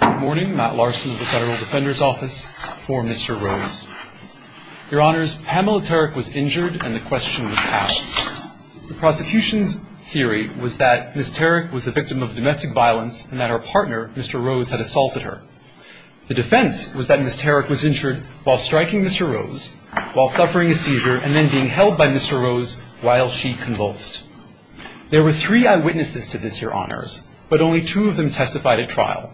Good morning. Matt Larson of the Federal Defender's Office for Mr. Rose. Your Honors, Pamela Tarek was injured and the question was asked. The prosecution's theory was that Ms. Tarek was the victim of domestic violence and that her partner, Mr. Rose, had assaulted her. The defense was that Ms. Tarek was injured while striking Mr. Rose, while suffering a seizure, and then being held by Mr. Rose while she convulsed. There were three eyewitnesses to this, Your Honors, but only two of them testified at trial.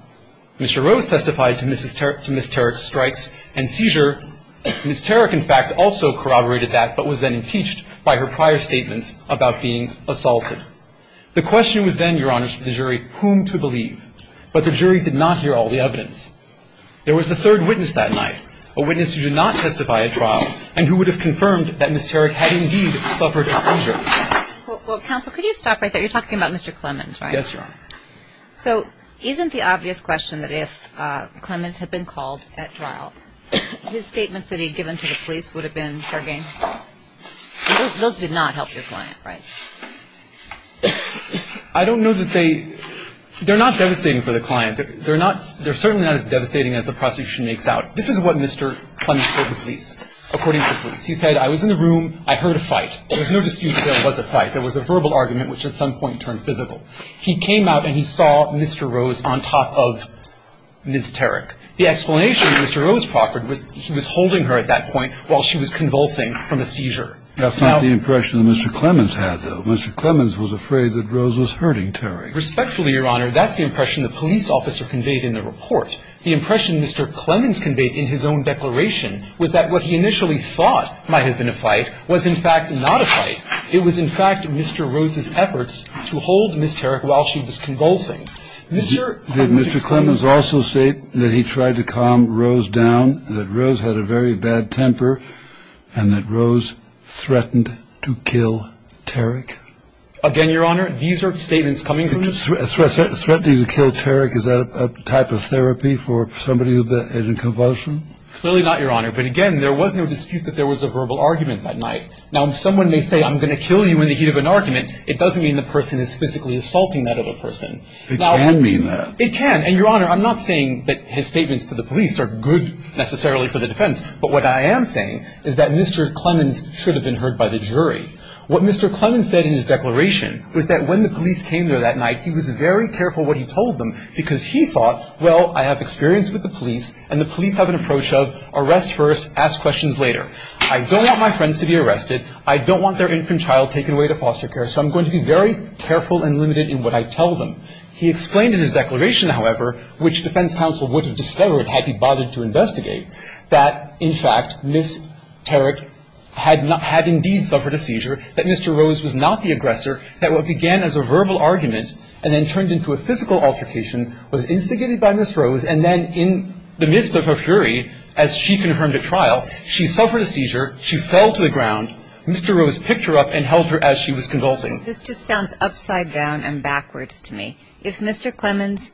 Mr. Rose testified to Ms. Tarek's strikes and seizure. Ms. Tarek, in fact, also corroborated that, but was then impeached by her prior statements about being assaulted. The question was then, Your Honors, for the jury whom to believe, but the jury did not hear all the evidence. There was a third witness that night, a witness who did not testify at trial and who would have confirmed that Ms. Tarek had indeed suffered a seizure. Well, counsel, could you stop right there? You're talking about Mr. Clements, right? Yes, Your Honor. So isn't the obvious question that if Clements had been called at trial, his statements that he had given to the police would have been forging? Those did not help your client, right? I don't know that they – they're not devastating for the client. They're certainly not as devastating as the prosecution makes out. This is what Mr. Clements told the police, according to the police. He said, I was in the room. I heard a fight. There was no dispute that there was a fight. There was a verbal argument, which at some point turned physical. He came out and he saw Mr. Rose on top of Ms. Tarek. The explanation that Mr. Rose proffered was he was holding her at that point while she was convulsing from a seizure. That's not the impression that Mr. Clements had, though. Mr. Clements was afraid that Rose was hurting Tarek. Respectfully, Your Honor, that's the impression the police officer conveyed in the report. The impression Mr. Clements conveyed in his own declaration was that what he initially thought might have been a fight was, in fact, not a fight. It was, in fact, Mr. Rose's efforts to hold Ms. Tarek while she was convulsing. Did Mr. Clements also state that he tried to calm Rose down, that Rose had a very bad temper, and that Rose threatened to kill Tarek? Again, Your Honor, these are statements coming from Mr. Tarek. Threatening to kill Tarek, is that a type of therapy for somebody who is in convulsion? Clearly not, Your Honor. But, again, there was no dispute that there was a verbal argument that night. Now, if someone may say, I'm going to kill you in the heat of an argument, it doesn't mean the person is physically assaulting that other person. It can mean that. It can. And, Your Honor, I'm not saying that his statements to the police are good, necessarily, for the defense. But what I am saying is that Mr. Clements should have been heard by the jury. What Mr. Clements said in his declaration was that when the police came there that night, he was very careful what he told them because he thought, well, I have experience with the police, and the police have an approach of arrest first, ask questions later. I don't want my friends to be arrested. I don't want their infant child taken away to foster care. So I'm going to be very careful and limited in what I tell them. He explained in his declaration, however, which defense counsel would have discovered had he bothered to investigate, that, in fact, Ms. Tarek had indeed suffered a seizure, that Mr. Rose was not the aggressor, that what began as a verbal argument and then turned into a physical altercation was instigated by Ms. Rose, and then in the midst of her fury, as she confirmed at trial, she suffered a seizure, she fell to the ground, Mr. Rose picked her up and held her as she was convulsing. This just sounds upside down and backwards to me. If Mr. Clements'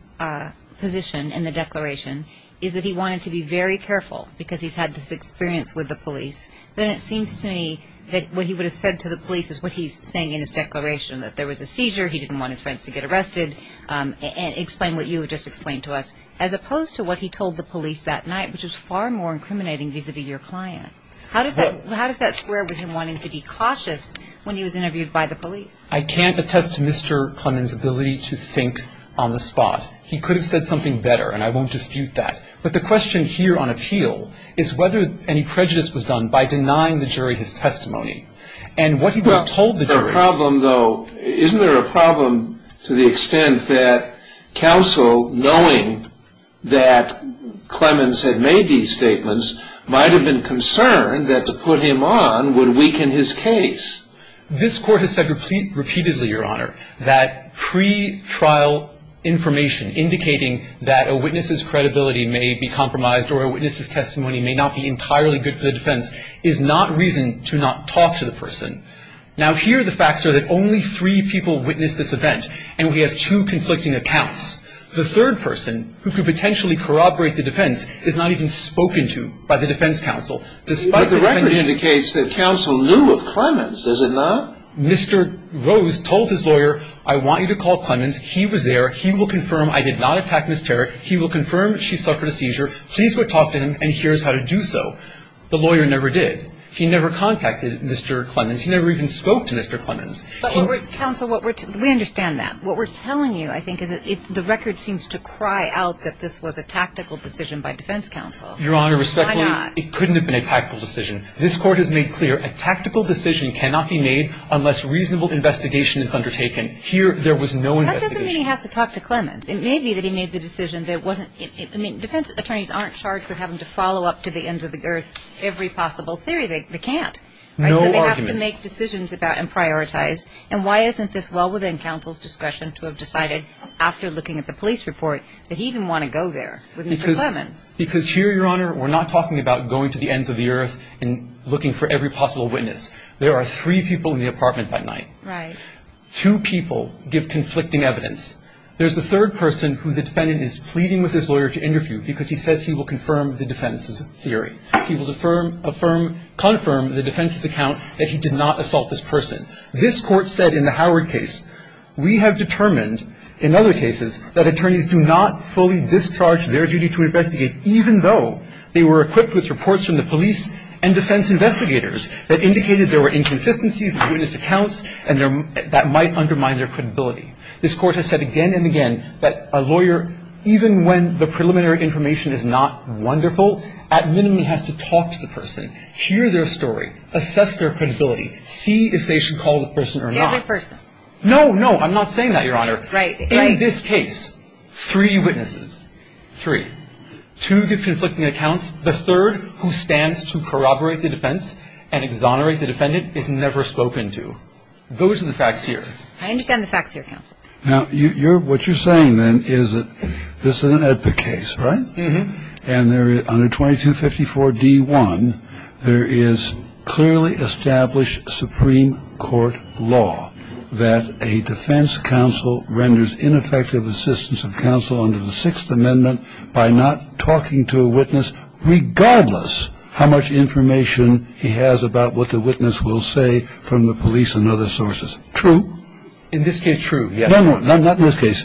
position in the declaration is that he wanted to be very careful because he's had this experience with the police, then it seems to me that what he would have said to the police is what he's saying in his declaration, that there was a seizure, he didn't want his friends to get arrested, and explain what you have just explained to us, as opposed to what he told the police that night, which is far more incriminating vis-à-vis your client. How does that square with him wanting to be cautious when he was interviewed by the police? I can't attest to Mr. Clements' ability to think on the spot. He could have said something better, and I won't dispute that. But the question here on appeal is whether any prejudice was done by denying the jury his testimony, and what he would have told the jury. Isn't there a problem, though, isn't there a problem to the extent that counsel, knowing that Clements had made these statements, might have been concerned that to put him on would weaken his case? This Court has said repeatedly, Your Honor, that pretrial information, indicating that a witness's credibility may be compromised or a witness's testimony may not be entirely good for the defense, is not reason to not talk to the person. Now, here the facts are that only three people witnessed this event, and we have two conflicting accounts. The third person, who could potentially corroborate the defense, is not even spoken to by the defense counsel. But the record indicates that counsel knew of Clements, does it not? Mr. Rose told his lawyer, I want you to call Clements. He was there. He will confirm I did not attack Ms. Tarrick. He will confirm she suffered a seizure. Please go talk to him, and here's how to do so. The lawyer never did. He never contacted Mr. Clements. He never even spoke to Mr. Clements. Counsel, we understand that. What we're telling you, I think, is the record seems to cry out that this was a tactical decision by defense counsel. Your Honor, respectfully, it couldn't have been a tactical decision. This Court has made clear a tactical decision cannot be made unless reasonable investigation is undertaken. Here there was no investigation. That doesn't mean he has to talk to Clements. It may be that he made the decision that wasn't – I mean, defense attorneys aren't charged with having to follow up to the ends of the earth every possible theory. They can't. No argument. So they have to make decisions about and prioritize, and why isn't this well within counsel's discretion to have decided after looking at the police report that he didn't want to go there with Mr. Clements? Because here, Your Honor, we're not talking about going to the ends of the earth and looking for every possible witness. There are three people in the apartment by night. Right. Two people give conflicting evidence. There's a third person who the defendant is pleading with his lawyer to interview because he says he will confirm the defense's theory. He will affirm – affirm – confirm the defense's account that he did not assault this person. This Court said in the Howard case, we have determined in other cases that attorneys do not fully discharge their duty to investigate even though they were equipped with reports from the police and defense investigators that indicated there were inconsistencies in witness accounts and that might undermine their credibility. This Court has said again and again that a lawyer, even when the preliminary information is not wonderful, at minimum has to talk to the person, hear their story, assess their credibility, see if they should call the person or not. The other person. No, no. I'm not saying that, Your Honor. Right. In this case, three witnesses. Three. Two give conflicting accounts. The third, who stands to corroborate the defense and exonerate the defendant, is never spoken to. Those are the facts here. I understand the facts here, counsel. Now, what you're saying, then, is that this is an EDPA case, right? Mm-hmm. And under 2254 D1, there is clearly established Supreme Court law that a defense counsel renders ineffective assistance of counsel under the Sixth Amendment by not talking to a witness regardless how much information he has about what the witness will say from the police and other sources. True. In this case, true, yes. No, no, not in this case.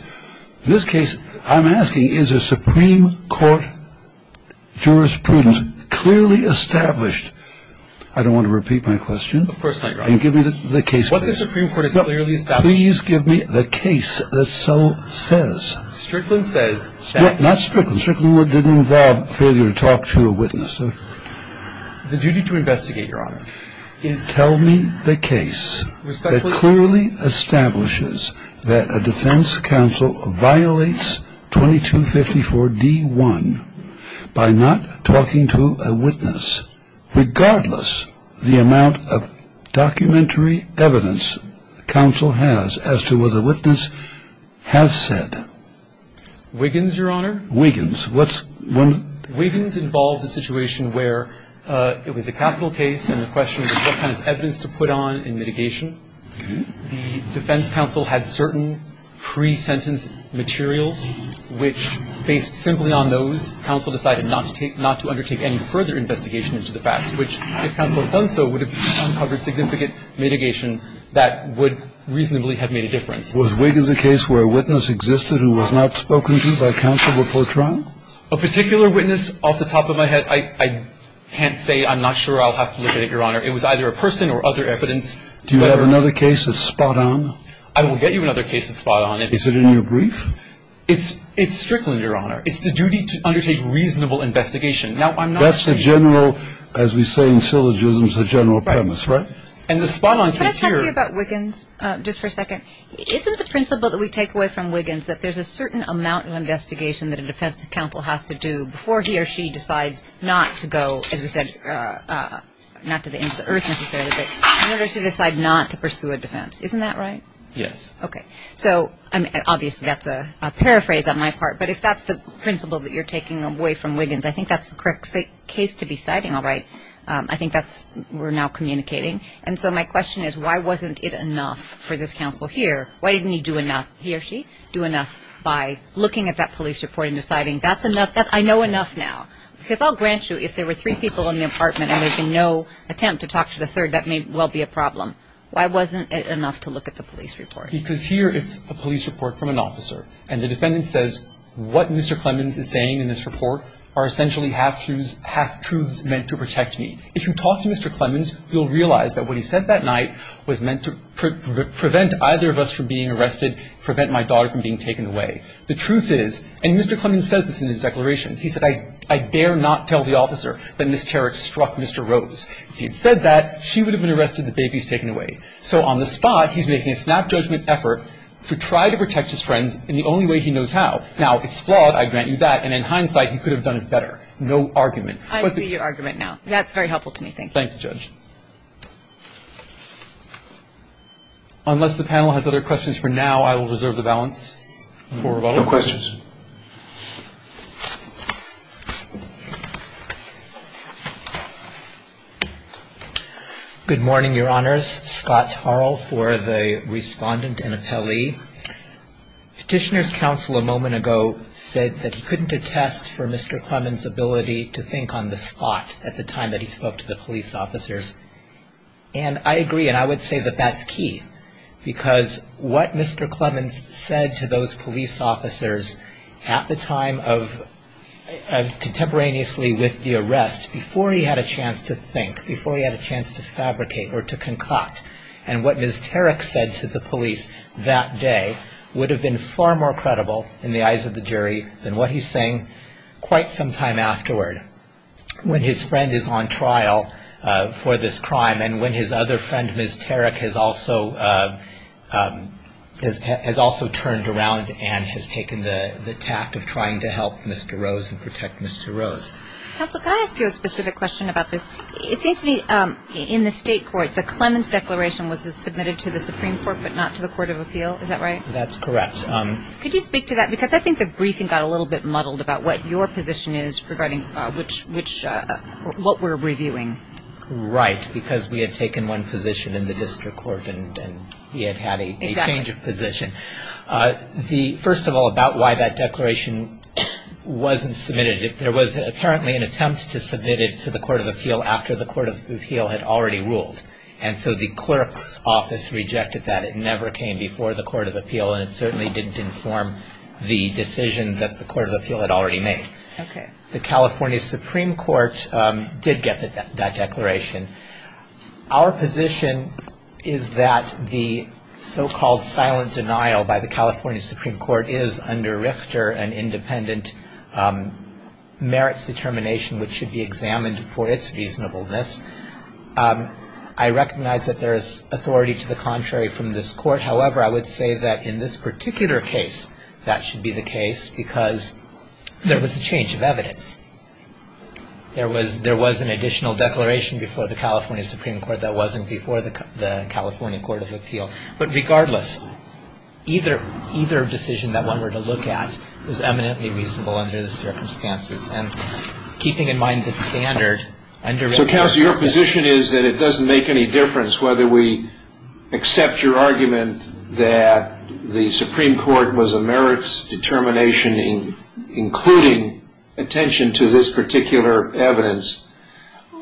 In this case, I'm asking, is a Supreme Court jurisprudence clearly established? I don't want to repeat my question. Of course not, Your Honor. Give me the case. What the Supreme Court has clearly established. Please give me the case that so says. Strickland says that. No, not Strickland. Strickland didn't involve failure to talk to a witness. The duty to investigate, Your Honor, is. Tell me the case that clearly establishes that a defense counsel violates 2254 D1 by not talking to a witness regardless the amount of documentary evidence counsel has as to what the witness has said. Wiggins, Your Honor. Wiggins. Wiggins involves a situation where it was a capital case and the question was what kind of evidence to put on in mitigation. The defense counsel had certain pre-sentence materials which, based simply on those, counsel decided not to undertake any further investigation into the facts, which, if counsel had done so, would have uncovered significant mitigation that would reasonably have made a difference. Was Wiggins a case where a witness existed who was not spoken to by counsel before trial? A particular witness off the top of my head, I can't say. I'm not sure I'll have to look at it, Your Honor. It was either a person or other evidence. Do you have another case that's spot on? I will get you another case that's spot on. Is it in your brief? It's Strickland, Your Honor. It's the duty to undertake reasonable investigation. Now, I'm not saying. That's the general, as we say in syllogisms, the general premise, right? Right. And the spot on case here. Can I talk to you about Wiggins just for a second? Isn't the principle that we take away from Wiggins that there's a certain amount of investigation that a defense counsel has to do before he or she decides not to go, as we said, not to the ends of the earth necessarily, but in order to decide not to pursue a defense. Isn't that right? Yes. Okay. So, obviously, that's a paraphrase on my part, but if that's the principle that you're taking away from Wiggins, I think that's the correct case to be citing, all right? I think that's, we're now communicating. And so my question is, why wasn't it enough for this counsel here? Why didn't he do enough, he or she, do enough by looking at that police report and deciding that's enough, I know enough now? Because I'll grant you, if there were three people in the apartment and there's been no attempt to talk to the third, that may well be a problem. Why wasn't it enough to look at the police report? Because here it's a police report from an officer, and the defendant says, what Mr. Clemens is saying in this report are essentially half-truths meant to protect me. If you talk to Mr. Clemens, you'll realize that what he said that night was meant to prevent either of us from being arrested, prevent my daughter from being taken away. The truth is, and Mr. Clemens says this in his declaration, he said, I dare not tell the officer that Ms. Carrick struck Mr. Rose. If he had said that, she would have been arrested, the baby is taken away. So on the spot, he's making a snap judgment effort to try to protect his friends in the only way he knows how. Now, it's flawed, I grant you that, and in hindsight, he could have done it better. No argument. I see your argument now. That's very helpful to me. Thank you. Thank you, Judge. Unless the panel has other questions for now, I will reserve the balance. No questions. Good morning, Your Honors. Scott Tarl for the respondent and appellee. Petitioner's counsel a moment ago said that he couldn't attest for Mr. Clemens' ability to think on the spot at the time that he spoke to the police officers. And I agree, and I would say that that's key, because what Mr. Clemens said to those police officers at the time of contemporaneously with the arrest, before he had a chance to think, before he had a chance to fabricate or to concoct, and what Ms. Tarrick said to the police that day, would have been far more credible in the eyes of the jury than what he's saying quite some time afterward, when his friend is on trial for this crime, and when his other friend, Ms. Tarrick, has also turned around and has taken the tact of trying to help Mr. Rose and protect Mr. Rose. Counsel, can I ask you a specific question about this? It seems to me in the state court, the Clemens Declaration was submitted to the Supreme Court, but not to the Court of Appeal. Is that right? That's correct. Could you speak to that? Because I think the briefing got a little bit muddled about what your position is regarding what we're reviewing. Right, because we had taken one position in the district court, and we had had a change of position. First of all, about why that declaration wasn't submitted, there was apparently an attempt to submit it to the Court of Appeal after the Court of Appeal had already ruled, and so the clerk's office rejected that. It never came before the Court of Appeal, and it certainly didn't inform the decision that the Court of Appeal had already made. Okay. The California Supreme Court did get that declaration. Our position is that the so-called silent denial by the California Supreme Court is under Richter an independent merits determination which should be examined for its reasonableness. I recognize that there is authority to the contrary from this court. However, I would say that in this particular case, that should be the case because there was a change of evidence. There was an additional declaration before the California Supreme Court that wasn't before the California Court of Appeal. But regardless, either decision that one were to look at was eminently reasonable under the circumstances, and keeping in mind the standard under Richter. So, Counselor, your position is that it doesn't make any difference whether we accept your argument that the Supreme Court was a merits determination including attention to this particular evidence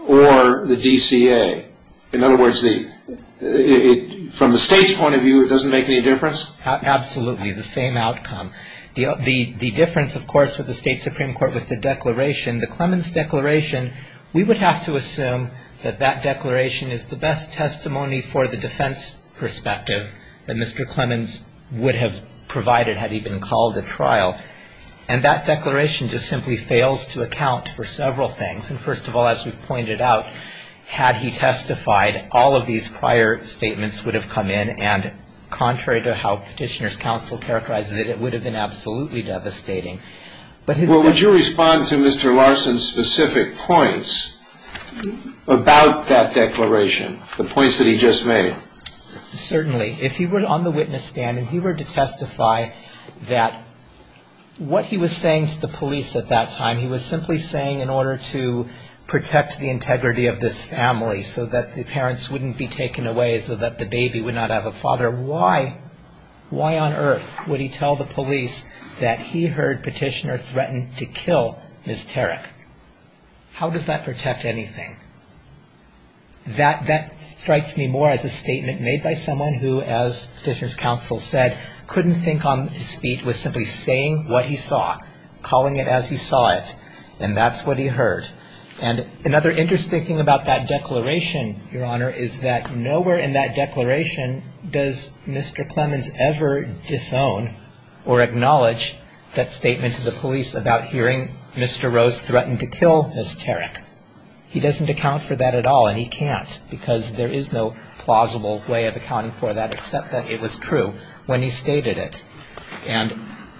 or the DCA. In other words, from the State's point of view, it doesn't make any difference? Absolutely, the same outcome. The difference, of course, with the State Supreme Court with the declaration, the Clemens Declaration, we would have to assume that that declaration is the best testimony for the defense perspective that Mr. Clemens would have provided had he been called to trial. And that declaration just simply fails to account for several things. And, first of all, as we've pointed out, had he testified all of these prior statements would have come in, and contrary to how Petitioner's Counsel characterizes it, it would have been absolutely devastating. Well, would you respond to Mr. Larson's specific points about that declaration, the points that he just made? Certainly. If he were on the witness stand and he were to testify that what he was saying to the police at that time, he was simply saying in order to protect the integrity of this family so that the parents wouldn't be taken away, so that the baby would not have a father, why on earth would he tell the police that he heard Petitioner threaten to kill Ms. Tarek? How does that protect anything? That strikes me more as a statement made by someone who, as Petitioner's Counsel said, couldn't think on his feet with simply saying what he saw, calling it as he saw it, and that's what he heard. And another interesting thing about that declaration, Your Honor, is that nowhere in that declaration does Mr. Clemens ever disown or acknowledge that statement to the police about hearing Mr. Rose threaten to kill Ms. Tarek. He doesn't account for that at all, and he can't, because there is no plausible way of accounting for that except that it was true when he stated it. And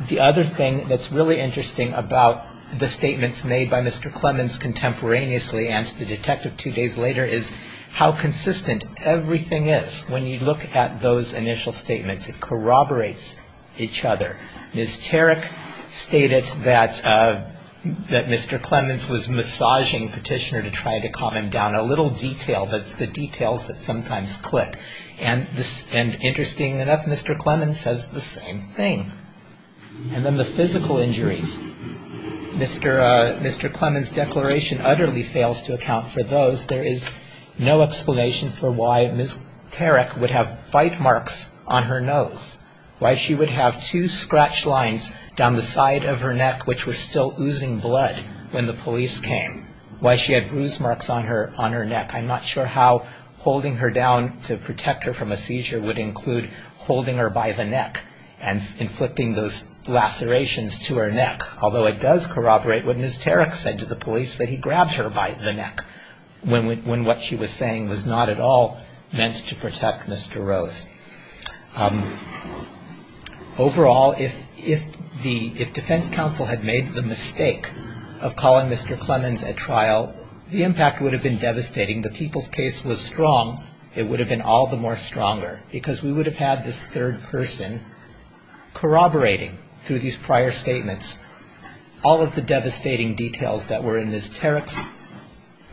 the other thing that's really interesting about the statements made by Mr. Clemens contemporaneously and to the detective two days later is how consistent everything is when you look at those initial statements. It corroborates each other. Ms. Tarek stated that Mr. Clemens was massaging Petitioner to try to calm him down. A little detail, that's the details that sometimes click. And interesting enough, Mr. Clemens says the same thing. And then the physical injuries. Mr. Clemens' declaration utterly fails to account for those. There is no explanation for why Ms. Tarek would have bite marks on her nose, why she would have two scratch lines down the side of her neck, which were still oozing blood when the police came, why she had bruise marks on her neck. I'm not sure how holding her down to protect her from a seizure would include holding her by the neck and inflicting those lacerations to her neck, although it does corroborate what Ms. Tarek said to the police, that he grabbed her by the neck when what she was saying was not at all meant to protect Mr. Rose. Overall, if defense counsel had made the mistake of calling Mr. Clemens at trial, the impact would have been devastating. The people's case was strong. It would have been all the more stronger because we would have had this third person corroborating through these prior statements all of the devastating details that were in Ms. Tarek's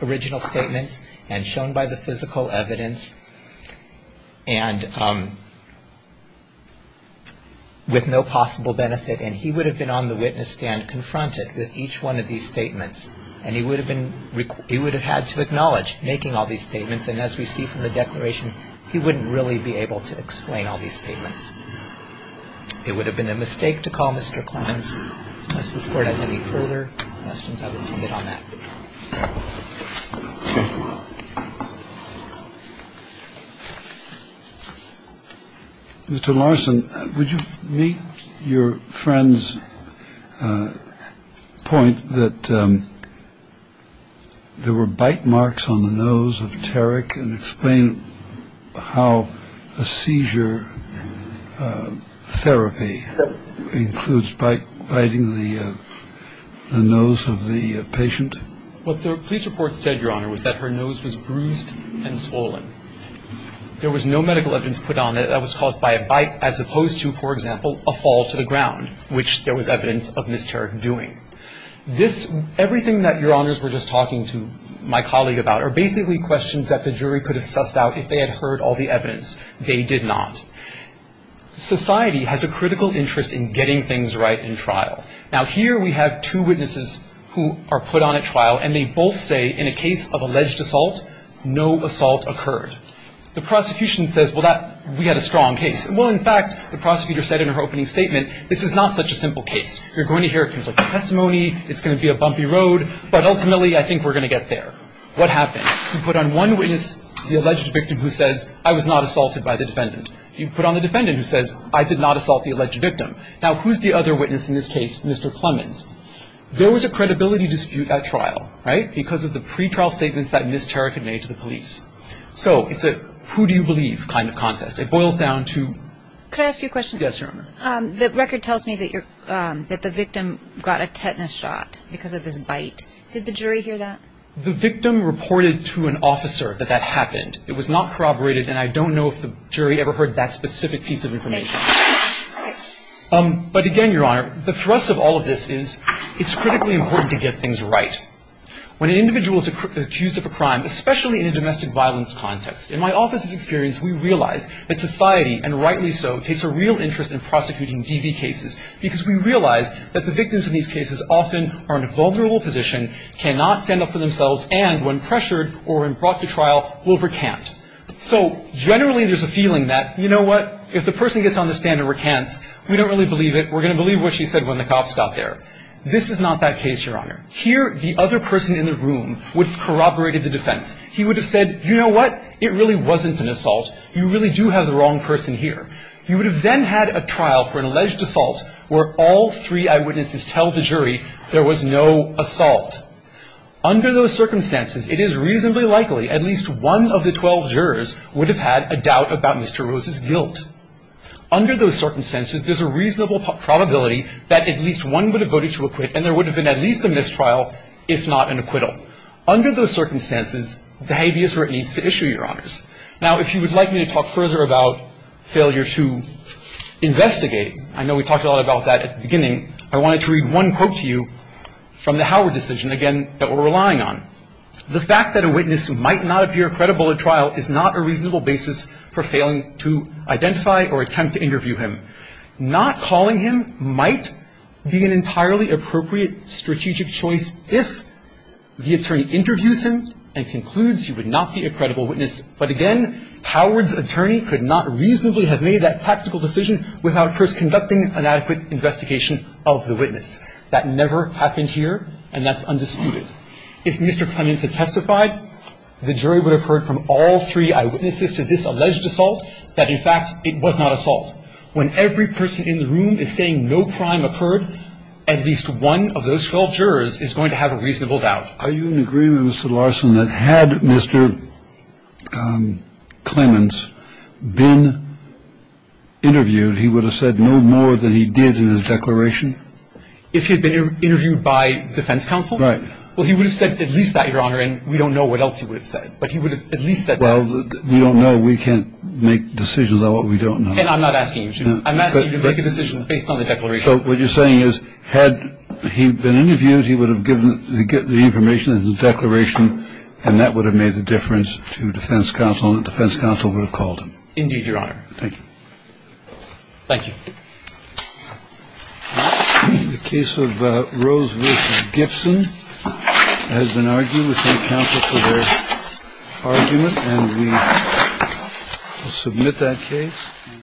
original statements and shown by the physical evidence and with no possible benefit, and he would have been on the witness stand confronted with each one of these statements, and he would have had to acknowledge making all these statements, and as we see from the declaration, he wouldn't really be able to explain all these statements. It would have been a mistake to call Mr. Clemens. Mr. Larson, would you meet your friend's point that there were bite marks on the nose of Tarek and explain how a seizure therapy includes biting the nose of the patient? What the police report said, Your Honor, was that her nose was bruised and swollen. There was no medical evidence put on that that was caused by a bite as opposed to, for example, a fall to the ground, which there was evidence of Ms. Tarek doing. This – everything that Your Honors were just talking to my colleague about are basically questions that the jury could have sussed out if they had heard all the evidence. They did not. Society has a critical interest in getting things right in trial. Now, here we have two witnesses who are put on at trial, and they both say in a case of alleged assault, no assault occurred. The prosecution says, Well, that – we had a strong case. Well, in fact, the prosecutor said in her opening statement, This is not such a simple case. You're going to hear a conflicting testimony. It's going to be a bumpy road, but ultimately I think we're going to get there. What happened? You put on one witness the alleged victim who says, I was not assaulted by the defendant. You put on the defendant who says, I did not assault the alleged victim. Now, who's the other witness in this case, Mr. Clemens? There was a credibility dispute at trial, right, because of the pretrial statements that Ms. Tarek had made to the police. So it's a who-do-you-believe kind of contest. It boils down to – Could I ask you a question? Yes, Your Honor. The record tells me that the victim got a tetanus shot because of this bite. Did the jury hear that? The victim reported to an officer that that happened. It was not corroborated, and I don't know if the jury ever heard that specific piece of information. But again, Your Honor, the thrust of all of this is it's critically important to get things right. When an individual is accused of a crime, especially in a domestic violence context, in my office's experience, we realize that society, and rightly so, takes a real interest in prosecuting DV cases because we realize that the victims in these cases often are in a vulnerable position, cannot stand up for themselves, and when pressured or when brought to trial will recant. So generally there's a feeling that, you know what, if the person gets on the stand and recants, we don't really believe it, we're going to believe what she said when the cops got there. This is not that case, Your Honor. Here, the other person in the room would have corroborated the defense. He would have said, you know what, it really wasn't an assault. You really do have the wrong person here. You would have then had a trial for an alleged assault where all three eyewitnesses tell the jury there was no assault. Under those circumstances, it is reasonably likely at least one of the 12 jurors would have had a doubt about Mr. Rose's guilt. Under those circumstances, there's a reasonable probability that at least one would have voted to acquit and there would have been at least a mistrial if not an acquittal. Now, if you would like me to talk further about failure to investigate, I know we talked a lot about that at the beginning, I wanted to read one quote to you from the Howard decision, again, that we're relying on. The fact that a witness might not appear credible at trial is not a reasonable basis for failing to identify or attempt to interview him. Not calling him might be an entirely appropriate strategic choice if the attorney interviews him and concludes he would not be a credible witness. But again, Howard's attorney could not reasonably have made that tactical decision without first conducting an adequate investigation of the witness. That never happened here, and that's undisputed. If Mr. Clements had testified, the jury would have heard from all three eyewitnesses to this alleged assault that, in fact, it was not assault. When every person in the room is saying no crime occurred, at least one of those 12 jurors is going to have a reasonable doubt. Are you in agreement, Mr. Larson, that had Mr. Clements been interviewed, he would have said no more than he did in his declaration? If he had been interviewed by defense counsel? Right. Well, he would have said at least that, Your Honor, and we don't know what else he would have said. But he would have at least said that. Well, we don't know. We can't make decisions on what we don't know. And I'm not asking you to. I'm asking you to make a decision based on the declaration. So what you're saying is, had he been interviewed, he would have given the information in his declaration, and that would have made the difference to defense counsel and defense counsel would have called him. Indeed, Your Honor. Thank you. Thank you. The case of Rose v. Gibson has been argued within the counsel for their argument, and we will submit that case. Thank you.